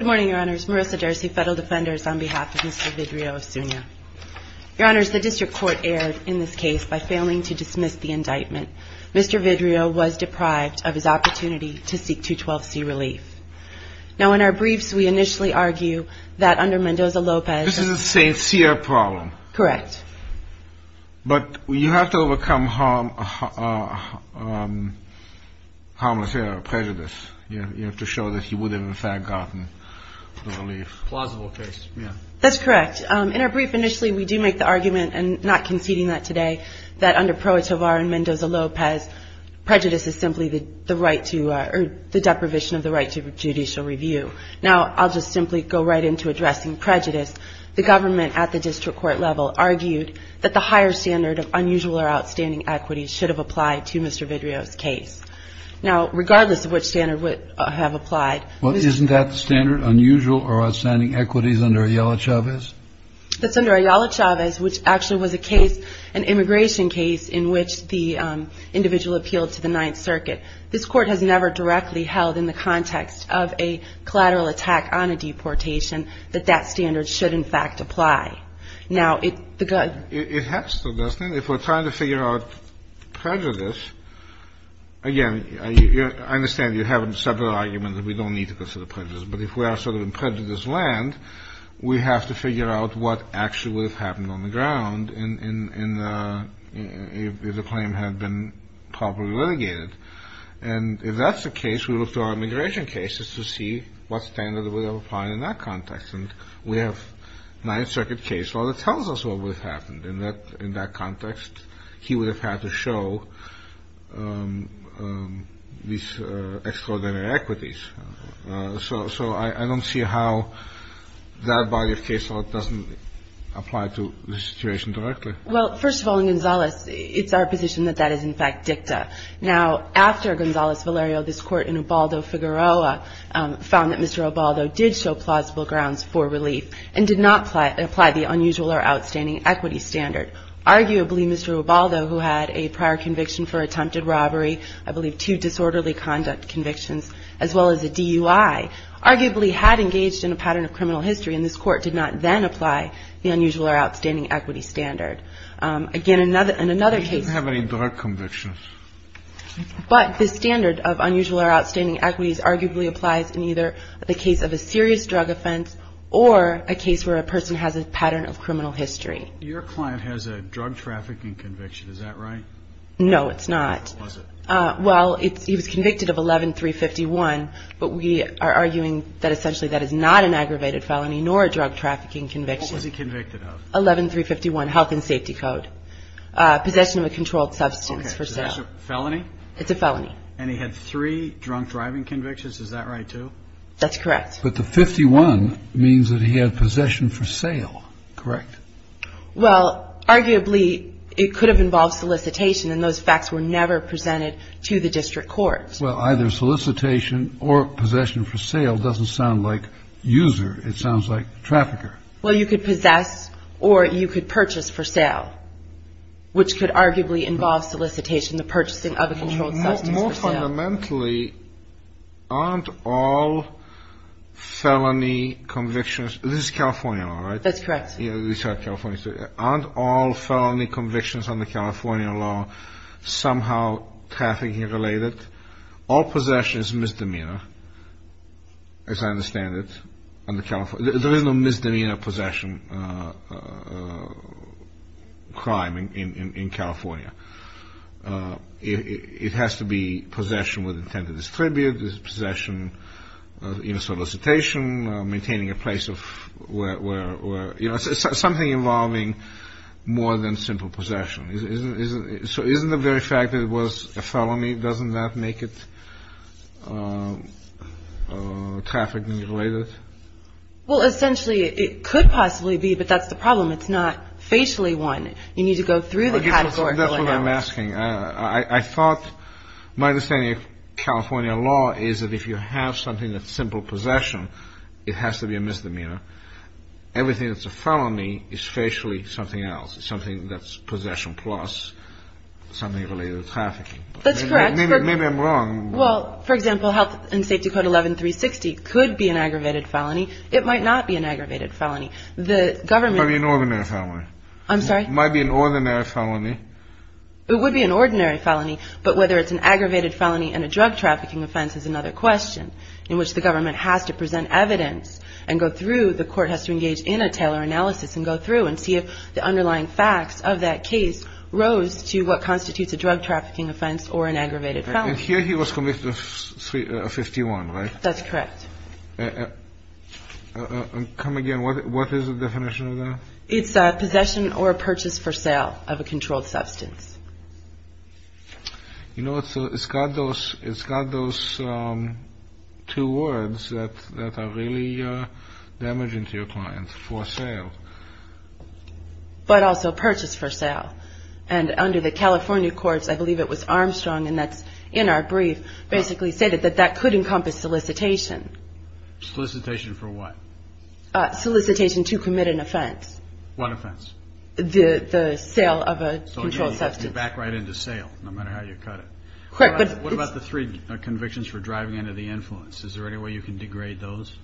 Good morning, your honors. Marissa Darcy, federal defenders on behalf of Mr. Vidrio-Osuna. Your honors, the district court erred in this case by failing to dismiss the indictment. Mr. Vidrio was deprived of his opportunity to seek 212C relief. Now, in our briefs, we initially argue that under Mendoza-Lopez This is a sincere problem. But you have to overcome harmless error, prejudice. You have to show that he would have, in fact, gotten the relief. Plausible case, yeah. That's correct. In our brief, initially, we do make the argument, and not conceding that today, that under Pro Etovar and Mendoza-Lopez, prejudice is simply the right to, or the deprivation of the right to judicial review. Now, I'll just simply go right into addressing prejudice. The government, at the district court level, argued that the higher standard of unusual or outstanding equity should have applied to Mr. Vidrio's case. Now, regardless of which standard would have applied. Well, isn't that standard unusual or outstanding equities under Ayala-Chavez? That's under Ayala-Chavez, which actually was a case, an immigration case in which the individual appealed to the Ninth Circuit. This court has never directly held in the context of a collateral attack on a deportation that that standard should, in fact, apply. Now, it has to, doesn't it? If we're trying to figure out prejudice, again, I understand you have several arguments that we don't need to consider prejudice. But if we are sort of in prejudice land, we have to figure out what actually would have happened on the ground if the claim had been properly litigated. And if that's the case, we look to our immigration cases to see what standard would have applied in that context. And we have Ninth Circuit case law that tells us what would have happened in that context. He would have had to show these extraordinary equities. So I don't see how that body of case law doesn't apply to the situation directly. Well, first of all, in Gonzales, it's our position that that is, in fact, dicta. Now, after Gonzales Valerio, this court in Ubaldo, Figueroa, found that Mr. Ubaldo did show plausible grounds for relief and did not apply the unusual or outstanding equity standard. Arguably, Mr. Ubaldo, who had a prior conviction for attempted robbery, I believe two disorderly conduct convictions, as well as a DUI, arguably had engaged in a pattern of criminal history, and this court did not then apply the unusual or outstanding equity standard. Again, in another case ---- We didn't have any direct convictions. But the standard of unusual or outstanding equities arguably applies in either the case of a serious drug offense or a case where a person has a pattern of criminal history. Your client has a drug trafficking conviction. Is that right? No, it's not. What was it? Well, he was convicted of 11-351, but we are arguing that essentially that is not an aggravated felony nor a drug trafficking conviction. What was he convicted of? It's a felony. It's a felony. And he had three drunk driving convictions. Is that right, too? That's correct. But the 51 means that he had possession for sale. Correct? Well, arguably, it could have involved solicitation, and those facts were never presented to the district court. Well, either solicitation or possession for sale doesn't sound like user. It sounds like trafficker. Well, you could possess or you could purchase for sale, which could arguably involve solicitation, the purchasing of a controlled substance for sale. More fundamentally, aren't all felony convictions under California law, right? That's correct. Aren't all felony convictions under California law somehow trafficking-related? All possession is misdemeanor, as I understand it. There is no misdemeanor possession crime in California. It has to be possession with intent to distribute. There's possession in a solicitation, maintaining a place of where, you know, something involving more than simple possession. So isn't the very fact that it was a felony, doesn't that make it trafficking-related? Well, essentially, it could possibly be, but that's the problem. It's not facially one. You need to go through the category. That's what I'm asking. I thought my understanding of California law is that if you have something that's simple possession, it has to be a misdemeanor. Everything that's a felony is facially something else, something that's possession plus something related to trafficking. That's correct. Maybe I'm wrong. Well, for example, Health and Safety Code 11-360 could be an aggravated felony. It might not be an aggravated felony. It might be an ordinary felony. I'm sorry? It might be an ordinary felony. It would be an ordinary felony, but whether it's an aggravated felony and a drug trafficking offense is another question, in which the government has to present evidence and go through, the court has to engage in a Taylor analysis and go through and see if the underlying facts of that case rose to what constitutes a drug trafficking offense or an aggravated felony. And here he was convicted of 51, right? That's correct. Come again. What is the definition of that? It's possession or purchase for sale of a controlled substance. You know, it's got those two words that are really damaging to your client, for sale. But also purchase for sale. And under the California courts, I believe it was Armstrong, and that's in our brief, basically stated that that could encompass solicitation. Solicitation for what? Solicitation to commit an offense. What offense? The sale of a controlled substance. So you back right into sale, no matter how you cut it. Correct. What about the three convictions for driving under the influence? Is there any way you can degrade those?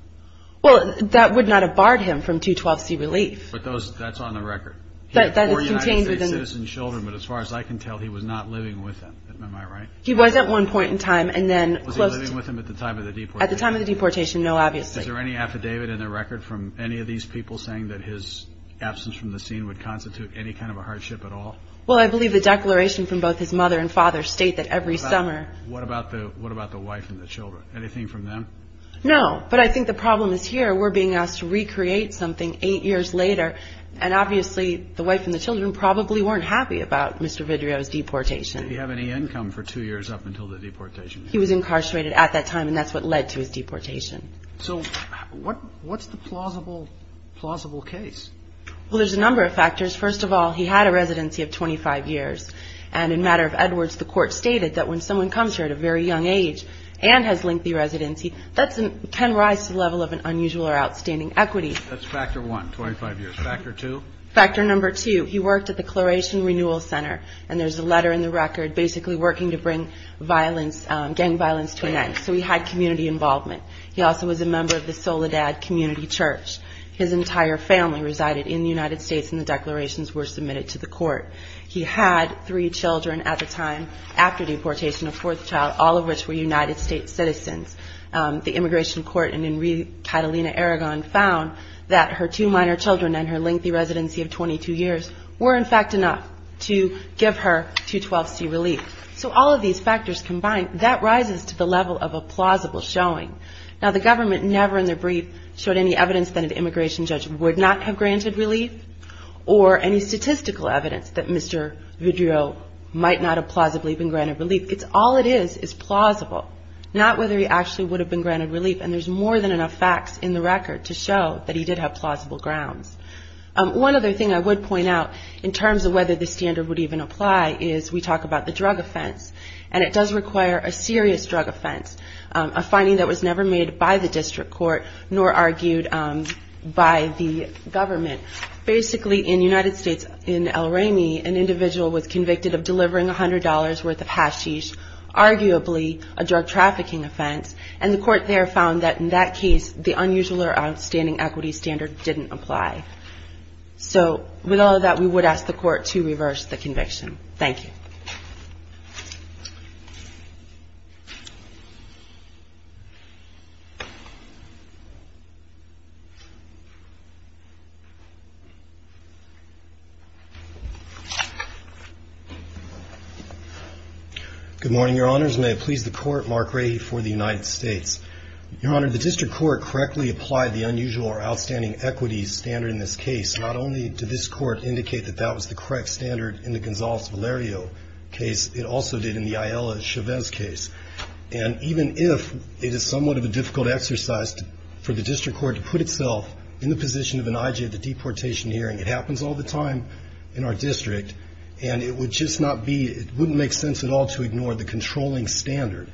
Well, that would not have barred him from 212C relief. But that's on the record. He had four United States citizen children, but as far as I can tell, he was not living with them. Am I right? He was at one point in time. Was he living with them at the time of the deportation? At the time of the deportation, no, obviously. Is there any affidavit in the record from any of these people saying that his absence from the scene would constitute any kind of a hardship at all? Well, I believe the declaration from both his mother and father state that every summer. What about the wife and the children? Anything from them? No. But I think the problem is here. We're being asked to recreate something eight years later, and obviously the wife and the children probably weren't happy about Mr. Vidrio's deportation. Did he have any income for two years up until the deportation? He was incarcerated at that time, and that's what led to his deportation. So what's the plausible case? Well, there's a number of factors. First of all, he had a residency of 25 years, and in a matter of Edwards, the court stated that when someone comes here at a very young age and has lengthy residency, that can rise to the level of an unusual or outstanding equity. That's factor one, 25 years. Factor two? Factor number two, he worked at the Claration Renewal Center, and there's a letter in the record basically working to bring gang violence to an end. So he had community involvement. He also was a member of the Soledad Community Church. His entire family resided in the United States, and the declarations were submitted to the court. He had three children at the time after deportation, a fourth child, all of which were United States citizens. The immigration court in Catalina, Aragon found that her two minor children and her lengthy residency of 22 years were, in fact, enough to give her 212C relief. So all of these factors combined, that rises to the level of a plausible showing. Now, the government never in their brief showed any evidence that an immigration judge would not have granted relief or any statistical evidence that Mr. Vidrio might not have plausibly been granted relief. All it is is plausible, not whether he actually would have been granted relief, and there's more than enough facts in the record to show that he did have plausible grounds. One other thing I would point out in terms of whether this standard would even apply is we talk about the drug offense, and it does require a serious drug offense, a finding that was never made by the district court nor argued by the government. Basically, in the United States, in El Remy, an individual was convicted of delivering $100 worth of hashish, arguably a drug trafficking offense, and the court there found that in that case, the unusual or outstanding equity standard didn't apply. So with all of that, we would ask the court to reverse the conviction. Thank you. Good morning, Your Honors. May it please the Court, Mark Rahe for the United States. Your Honor, the district court correctly applied the unusual or outstanding equity standard in this case. Not only did this court indicate that that was the correct standard in the Gonzales-Valerio case, it also did in the Ayala-Chavez case. And even if it is somewhat of a difficult exercise for the district court to put itself in the position of an I.G. at the deportation hearing, it happens all the time in our district, and it would just not be, it wouldn't make sense at all to ignore the controlling standard.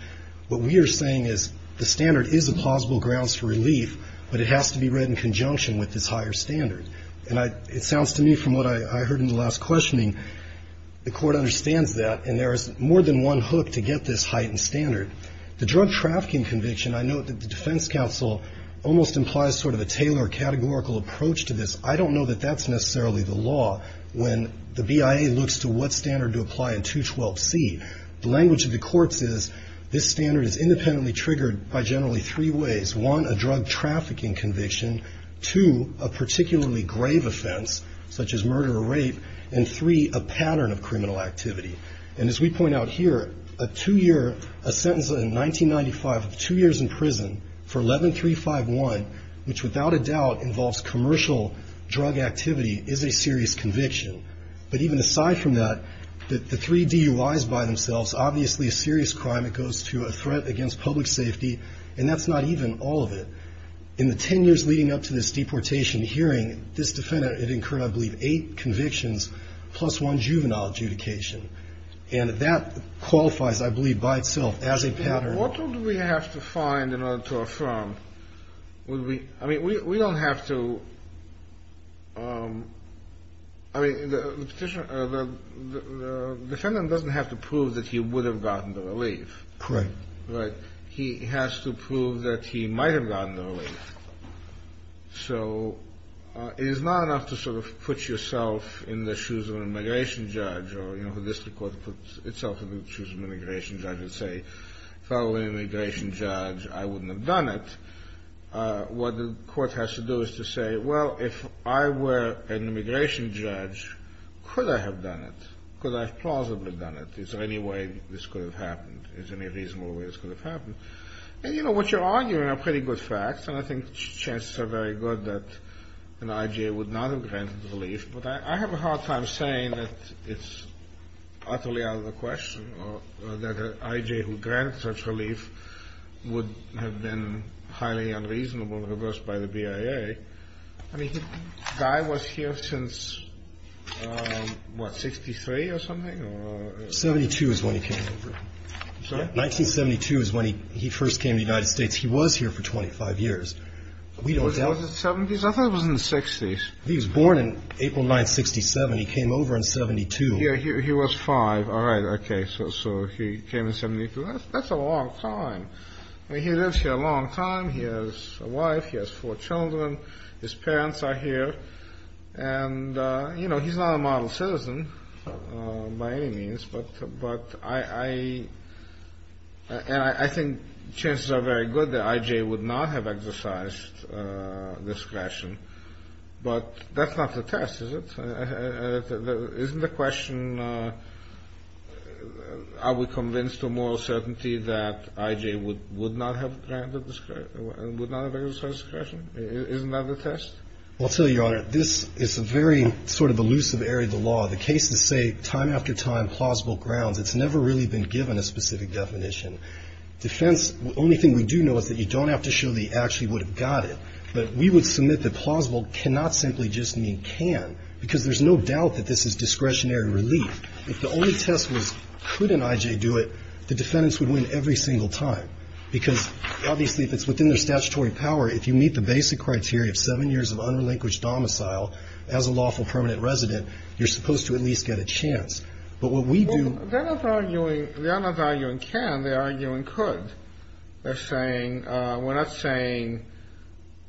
What we are saying is the standard is a plausible grounds for relief, but it has to be read in conjunction with this higher standard. And it sounds to me, from what I heard in the last questioning, the court understands that, and there is more than one hook to get this heightened standard. The drug trafficking conviction, I note that the defense counsel almost implies sort of a Taylor categorical approach to this. I don't know that that's necessarily the law. When the BIA looks to what standard to apply in 212C, the language of the courts is, this standard is independently triggered by generally three ways. One, a drug trafficking conviction. Two, a particularly grave offense, such as murder or rape. And three, a pattern of criminal activity. And as we point out here, a two-year, a sentence in 1995 of two years in prison for 11351, which without a doubt involves commercial drug activity, is a serious conviction. But even aside from that, the three DUIs by themselves, obviously a serious crime. It goes to a threat against public safety, and that's not even all of it. In the 10 years leading up to this deportation hearing, this defendant had incurred, I believe, eight convictions, plus one juvenile adjudication. And that qualifies, I believe, by itself as a pattern. What do we have to find in order to affirm? I mean, we don't have to – I mean, the defendant doesn't have to prove that he would have gotten the relief. Correct. Right. He has to prove that he might have gotten the relief. So it is not enough to sort of put yourself in the shoes of an immigration judge or, you know, the district court puts itself in the shoes of an immigration judge and say, if I were an immigration judge, I wouldn't have done it. What the court has to do is to say, well, if I were an immigration judge, could I have done it? Could I have plausibly done it? Is there any way this could have happened? Is there any reasonable way this could have happened? And, you know, what you're arguing are pretty good facts, and I think chances are very good that an I.J. would not have granted the relief. But I have a hard time saying that it's utterly out of the question that an I.J. who granted such relief would have been highly unreasonable, reversed by the BIA. I mean, the guy was here since, what, 63 or something? 72 is when he came over. Sorry? 1972 is when he first came to the United States. He was here for 25 years. Was he in the 70s? I thought he was in the 60s. He was born in April 1967. He came over in 72. He was five. All right. Okay. So he came in 72. That's a long time. I mean, he lives here a long time. He has a wife. He has four children. His parents are here. And, you know, he's not a model citizen by any means, but I think chances are very good that I.J. would not have exercised discretion. But that's not the test, is it? Isn't the question, are we convinced to a moral certainty that I.J. would not have exercised discretion? Isn't that the test? I'll tell you, Your Honor, this is a very sort of elusive area of the law. The cases say time after time, plausible grounds. It's never really been given a specific definition. Defense, the only thing we do know is that you don't have to show that he actually would have got it. But we would submit that plausible cannot simply just mean can, because there's no doubt that this is discretionary relief. If the only test was could an I.J. do it, the defendants would win every single time. Because obviously if it's within their statutory power, if you meet the basic criteria of seven years of unrelinquished domicile as a lawful permanent resident, you're supposed to at least get a chance. But what we do. They're not arguing can, they're arguing could. They're saying we're not saying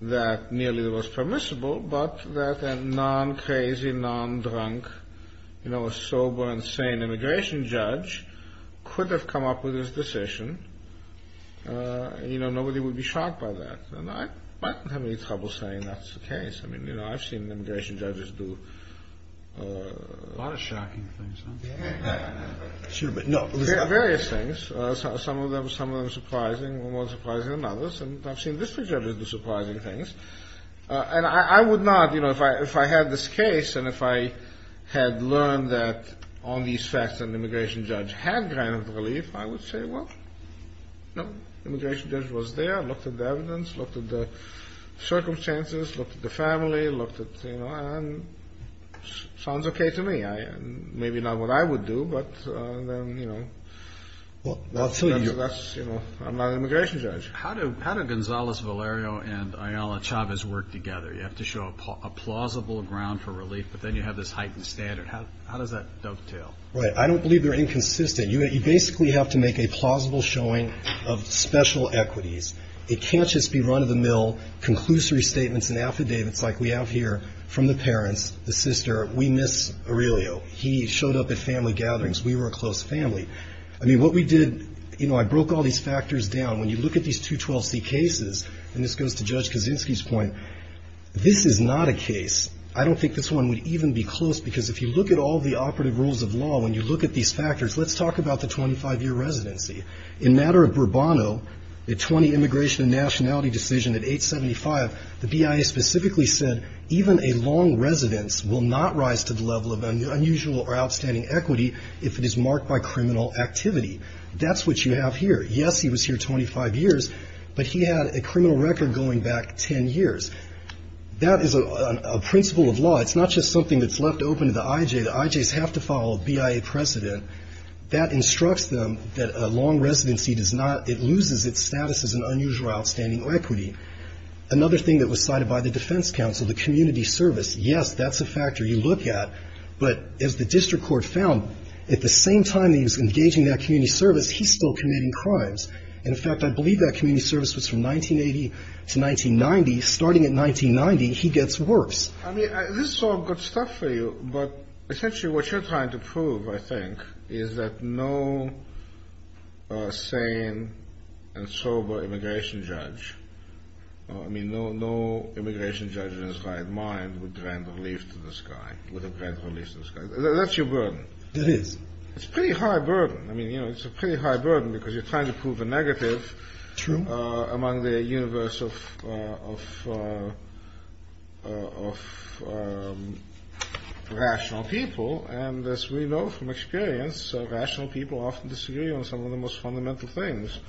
that nearly the most permissible, but that a non-crazy, non-drunk, you know, a sober and sane immigration judge could have come up with this decision. You know, nobody would be shocked by that. And I might not have any trouble saying that's the case. I mean, you know, I've seen immigration judges do a lot of shocking things. Various things. Some of them, some of them surprising, more surprising than others. And I've seen district judges do surprising things. And I would not, you know, if I had this case and if I had learned that on these facts an immigration judge had granted relief, I would say, well, no, immigration judge was there, looked at the evidence, looked at the circumstances, looked at the family, looked at, you know, and sounds okay to me. Maybe not what I would do, but, you know. Well, I'll tell you. That's, you know, I'm not an immigration judge. How do Gonzalez Valerio and Ayala Chavez work together? You have to show a plausible ground for relief, but then you have this heightened standard. How does that dovetail? Right. I don't believe they're inconsistent. You basically have to make a plausible showing of special equities. It can't just be run-of-the-mill conclusory statements and affidavits like we have here from the parents, the sister. We miss Aurelio. He showed up at family gatherings. We were a close family. I mean, what we did, you know, I broke all these factors down. When you look at these 212C cases, and this goes to Judge Kaczynski's point, this is not a case. I don't think this one would even be close because if you look at all the operative rules of law, when you look at these factors, let's talk about the 25-year residency. In matter of Bourbono, the 20 immigration and nationality decision at 875, the BIA specifically said even a long residence will not rise to the level of unusual or outstanding equity if it is marked by criminal activity. That's what you have here. Yes, he was here 25 years, but he had a criminal record going back 10 years. That is a principle of law. It's not just something that's left open to the IJ. The IJs have to follow BIA precedent. That instructs them that a long residency does not, it loses its status as an unusual or outstanding equity. Another thing that was cited by the defense counsel, the community service. Yes, that's a factor you look at, but as the district court found, at the same time he was engaging that community service, he's still committing crimes. In fact, I believe that community service was from 1980 to 1990. Starting in 1990, he gets worse. I mean, this is all good stuff for you, but essentially what you're trying to prove, I think, is that no sane and sober immigration judge, I mean, no immigration judge in his right mind would grant relief to this guy, would grant relief to this guy. That's your burden. It is. It's a pretty high burden. I mean, you know, it's a pretty high burden because you're trying to prove a negative. True. Among the universe of rational people, and as we know from experience, rational people often disagree on some of the most fundamental things.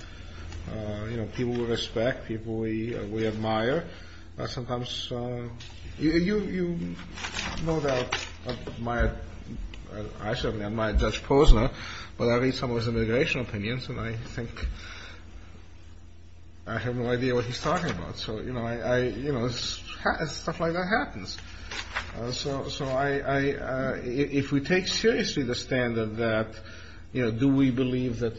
You know, people we respect, people we admire. You know that I certainly admire Judge Posner, but I read some of his immigration opinions, and I think I have no idea what he's talking about. So, you know, stuff like that happens. So if we take seriously the standard that, you know, do we believe that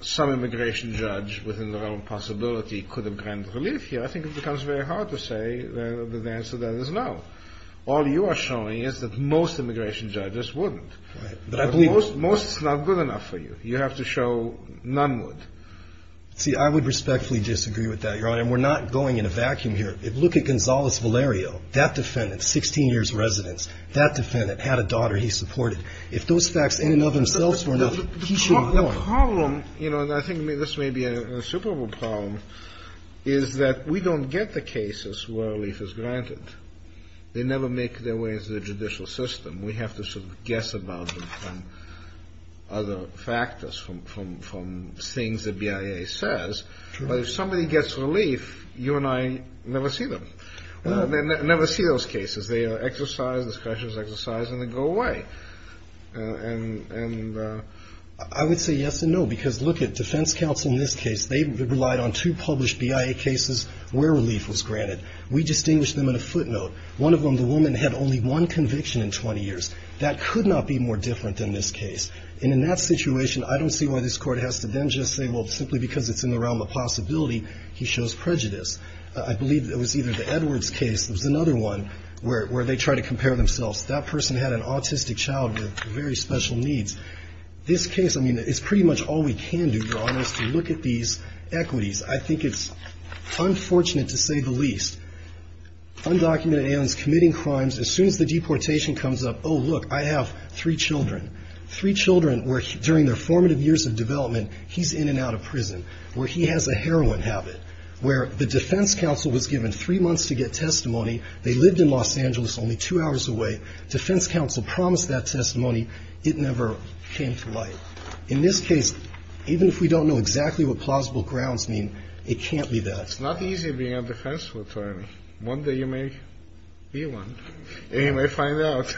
some immigration judge within their own possibility could have granted relief here, I think it becomes very hard to say that the answer to that is no. All you are showing is that most immigration judges wouldn't. Right. But I believe most is not good enough for you. You have to show none would. See, I would respectfully disagree with that, Your Honor, and we're not going in a vacuum here. Look at Gonzales Valerio. That defendant, 16 years residence, that defendant had a daughter he supported. If those facts in and of themselves were enough, he should have gone. The problem, you know, and I think this may be a Super Bowl problem, is that we don't get the cases where relief is granted. They never make their way into the judicial system. We have to sort of guess about them from other factors, from things the BIA says. But if somebody gets relief, you and I never see them. We never see those cases. They are exercise, discussions, exercise, and they go away. And I would say yes and no, because look at defense counsel in this case. They relied on two published BIA cases where relief was granted. We distinguished them in a footnote. One of them, the woman had only one conviction in 20 years. That could not be more different than this case. And in that situation, I don't see why this Court has to then just say, well, simply because it's in the realm of possibility, he shows prejudice. I believe it was either the Edwards case. There was another one where they tried to compare themselves. That person had an autistic child with very special needs. This case, I mean, it's pretty much all we can do, Your Honors, to look at these equities. I think it's unfortunate to say the least. Undocumented aliens committing crimes. As soon as the deportation comes up, oh, look, I have three children, three children where during their formative years of development, he's in and out of prison, where he has a heroin habit, where the defense counsel was given three months to get testimony. They lived in Los Angeles only two hours away. Defense counsel promised that testimony. It never came to light. In this case, even if we don't know exactly what plausible grounds mean, it can't be that. It's not easy being a defense attorney. One day you may be one. And you may find out.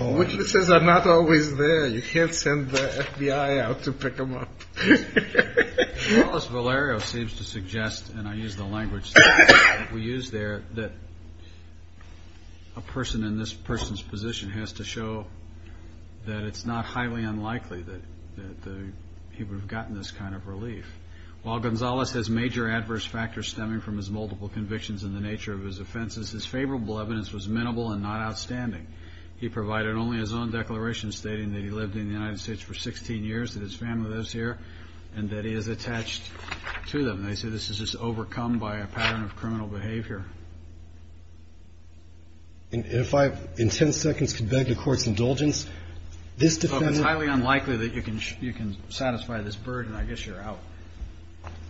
Witnesses are not always there. You can't send the FBI out to pick them up. Gonzales Valerio seems to suggest, and I use the language that we use there, that a person in this person's position has to show that it's not highly unlikely that he would have gotten this kind of relief. While Gonzales has major adverse factors stemming from his multiple convictions and the nature of his offenses, his favorable evidence was minimal and not outstanding. He provided only his own declaration stating that he lived in the United States for 16 years, that his family lives here, and that he is attached to them. And they say this is just overcome by a pattern of criminal behavior. And if I in ten seconds could beg the Court's indulgence, this defendant. It's highly unlikely that you can satisfy this burden. I guess you're out.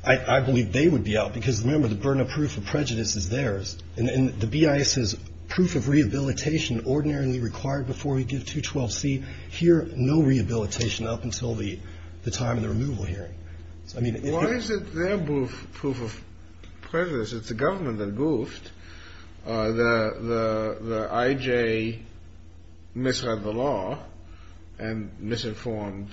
I believe they would be out because, remember, the burden of proof of prejudice is theirs. And the BIA says proof of rehabilitation ordinarily required before we give 212C. Here, no rehabilitation up until the time of the removal hearing. Why is it their proof of prejudice? It's the government that goofed. The I.J. misread the law and misinformed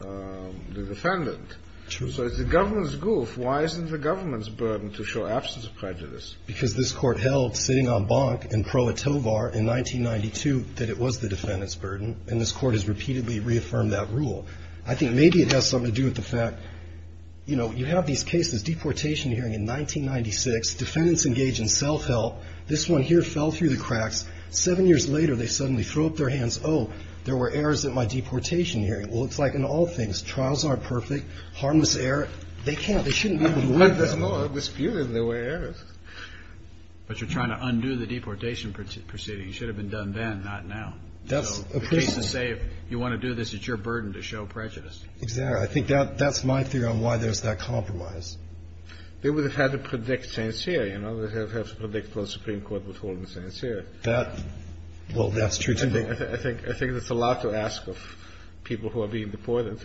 the defendant. So it's the government's goof. Why isn't the government's burden to show absence of prejudice? Because this Court held, sitting on Bonk and Pro Atovar in 1992, that it was the defendant's burden. And this Court has repeatedly reaffirmed that rule. I think maybe it has something to do with the fact, you know, you have these cases, deportation hearing in 1996. Defendants engage in self-help. This one here fell through the cracks. Seven years later, they suddenly throw up their hands. Oh, there were errors at my deportation hearing. Well, it's like in all things. Trials aren't perfect. Harmless error. They can't. They shouldn't be able to live that long. No, it was fewer than there were errors. But you're trying to undo the deportation proceeding. It should have been done then, not now. That's a pretty – The cases say if you want to do this, it's your burden to show prejudice. Exactly. I think that's my theory on why there's that compromise. They would have had to predict Saint Seiya, you know. They would have had to predict whether the Supreme Court was holding Saint Seiya. That – well, that's true, too. I think it's a lot to ask of people who are being deported.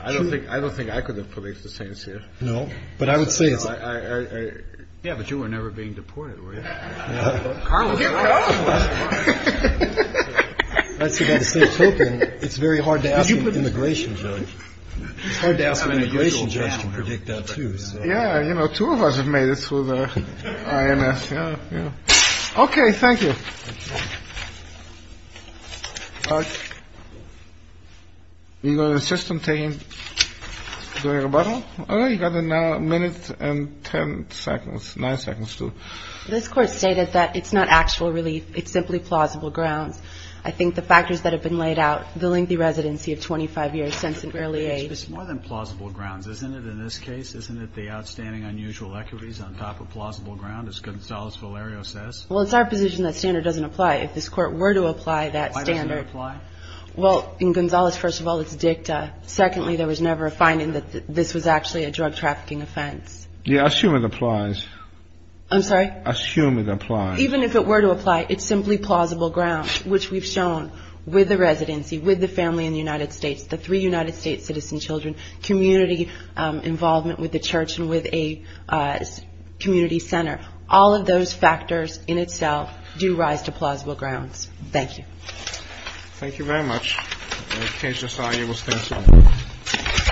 I don't think I could have predicted Saint Seiya. But I would say it's – Yeah, but you were never being deported, were you? Yeah. Harmless error. Here we go. That's the guy to stay token. It's very hard to ask an immigration judge. It's hard to ask an immigration judge to predict that, too. Yeah, you know, two of us have made it through the IMF. Yeah, yeah. Okay. Thank you. We go to the system team. Doing a rebuttal? Oh, you got a minute and ten seconds. Nine seconds, too. This Court stated that it's not actual relief. It's simply plausible grounds. I think the factors that have been laid out, the lengthy residency of 25 years since an early age – It's more than plausible grounds, isn't it, in this case? Isn't it the outstanding unusual equities on top of plausible ground, as Gonzales-Valerio says? Well, it's our position that standard doesn't apply. If this Court were to apply that standard – Why doesn't it apply? Well, in Gonzales, first of all, it's dicta. Secondly, there was never a finding that this was actually a drug trafficking offense. Yeah, I assume it applies. I'm sorry? I assume it applies. Even if it were to apply, it's simply plausible grounds, which we've shown with the residency, with the family in the United States, the three United States citizen children, community involvement with the church and with a community center. All of those factors in itself do rise to plausible grounds. Thank you. Thank you very much. The case is signed.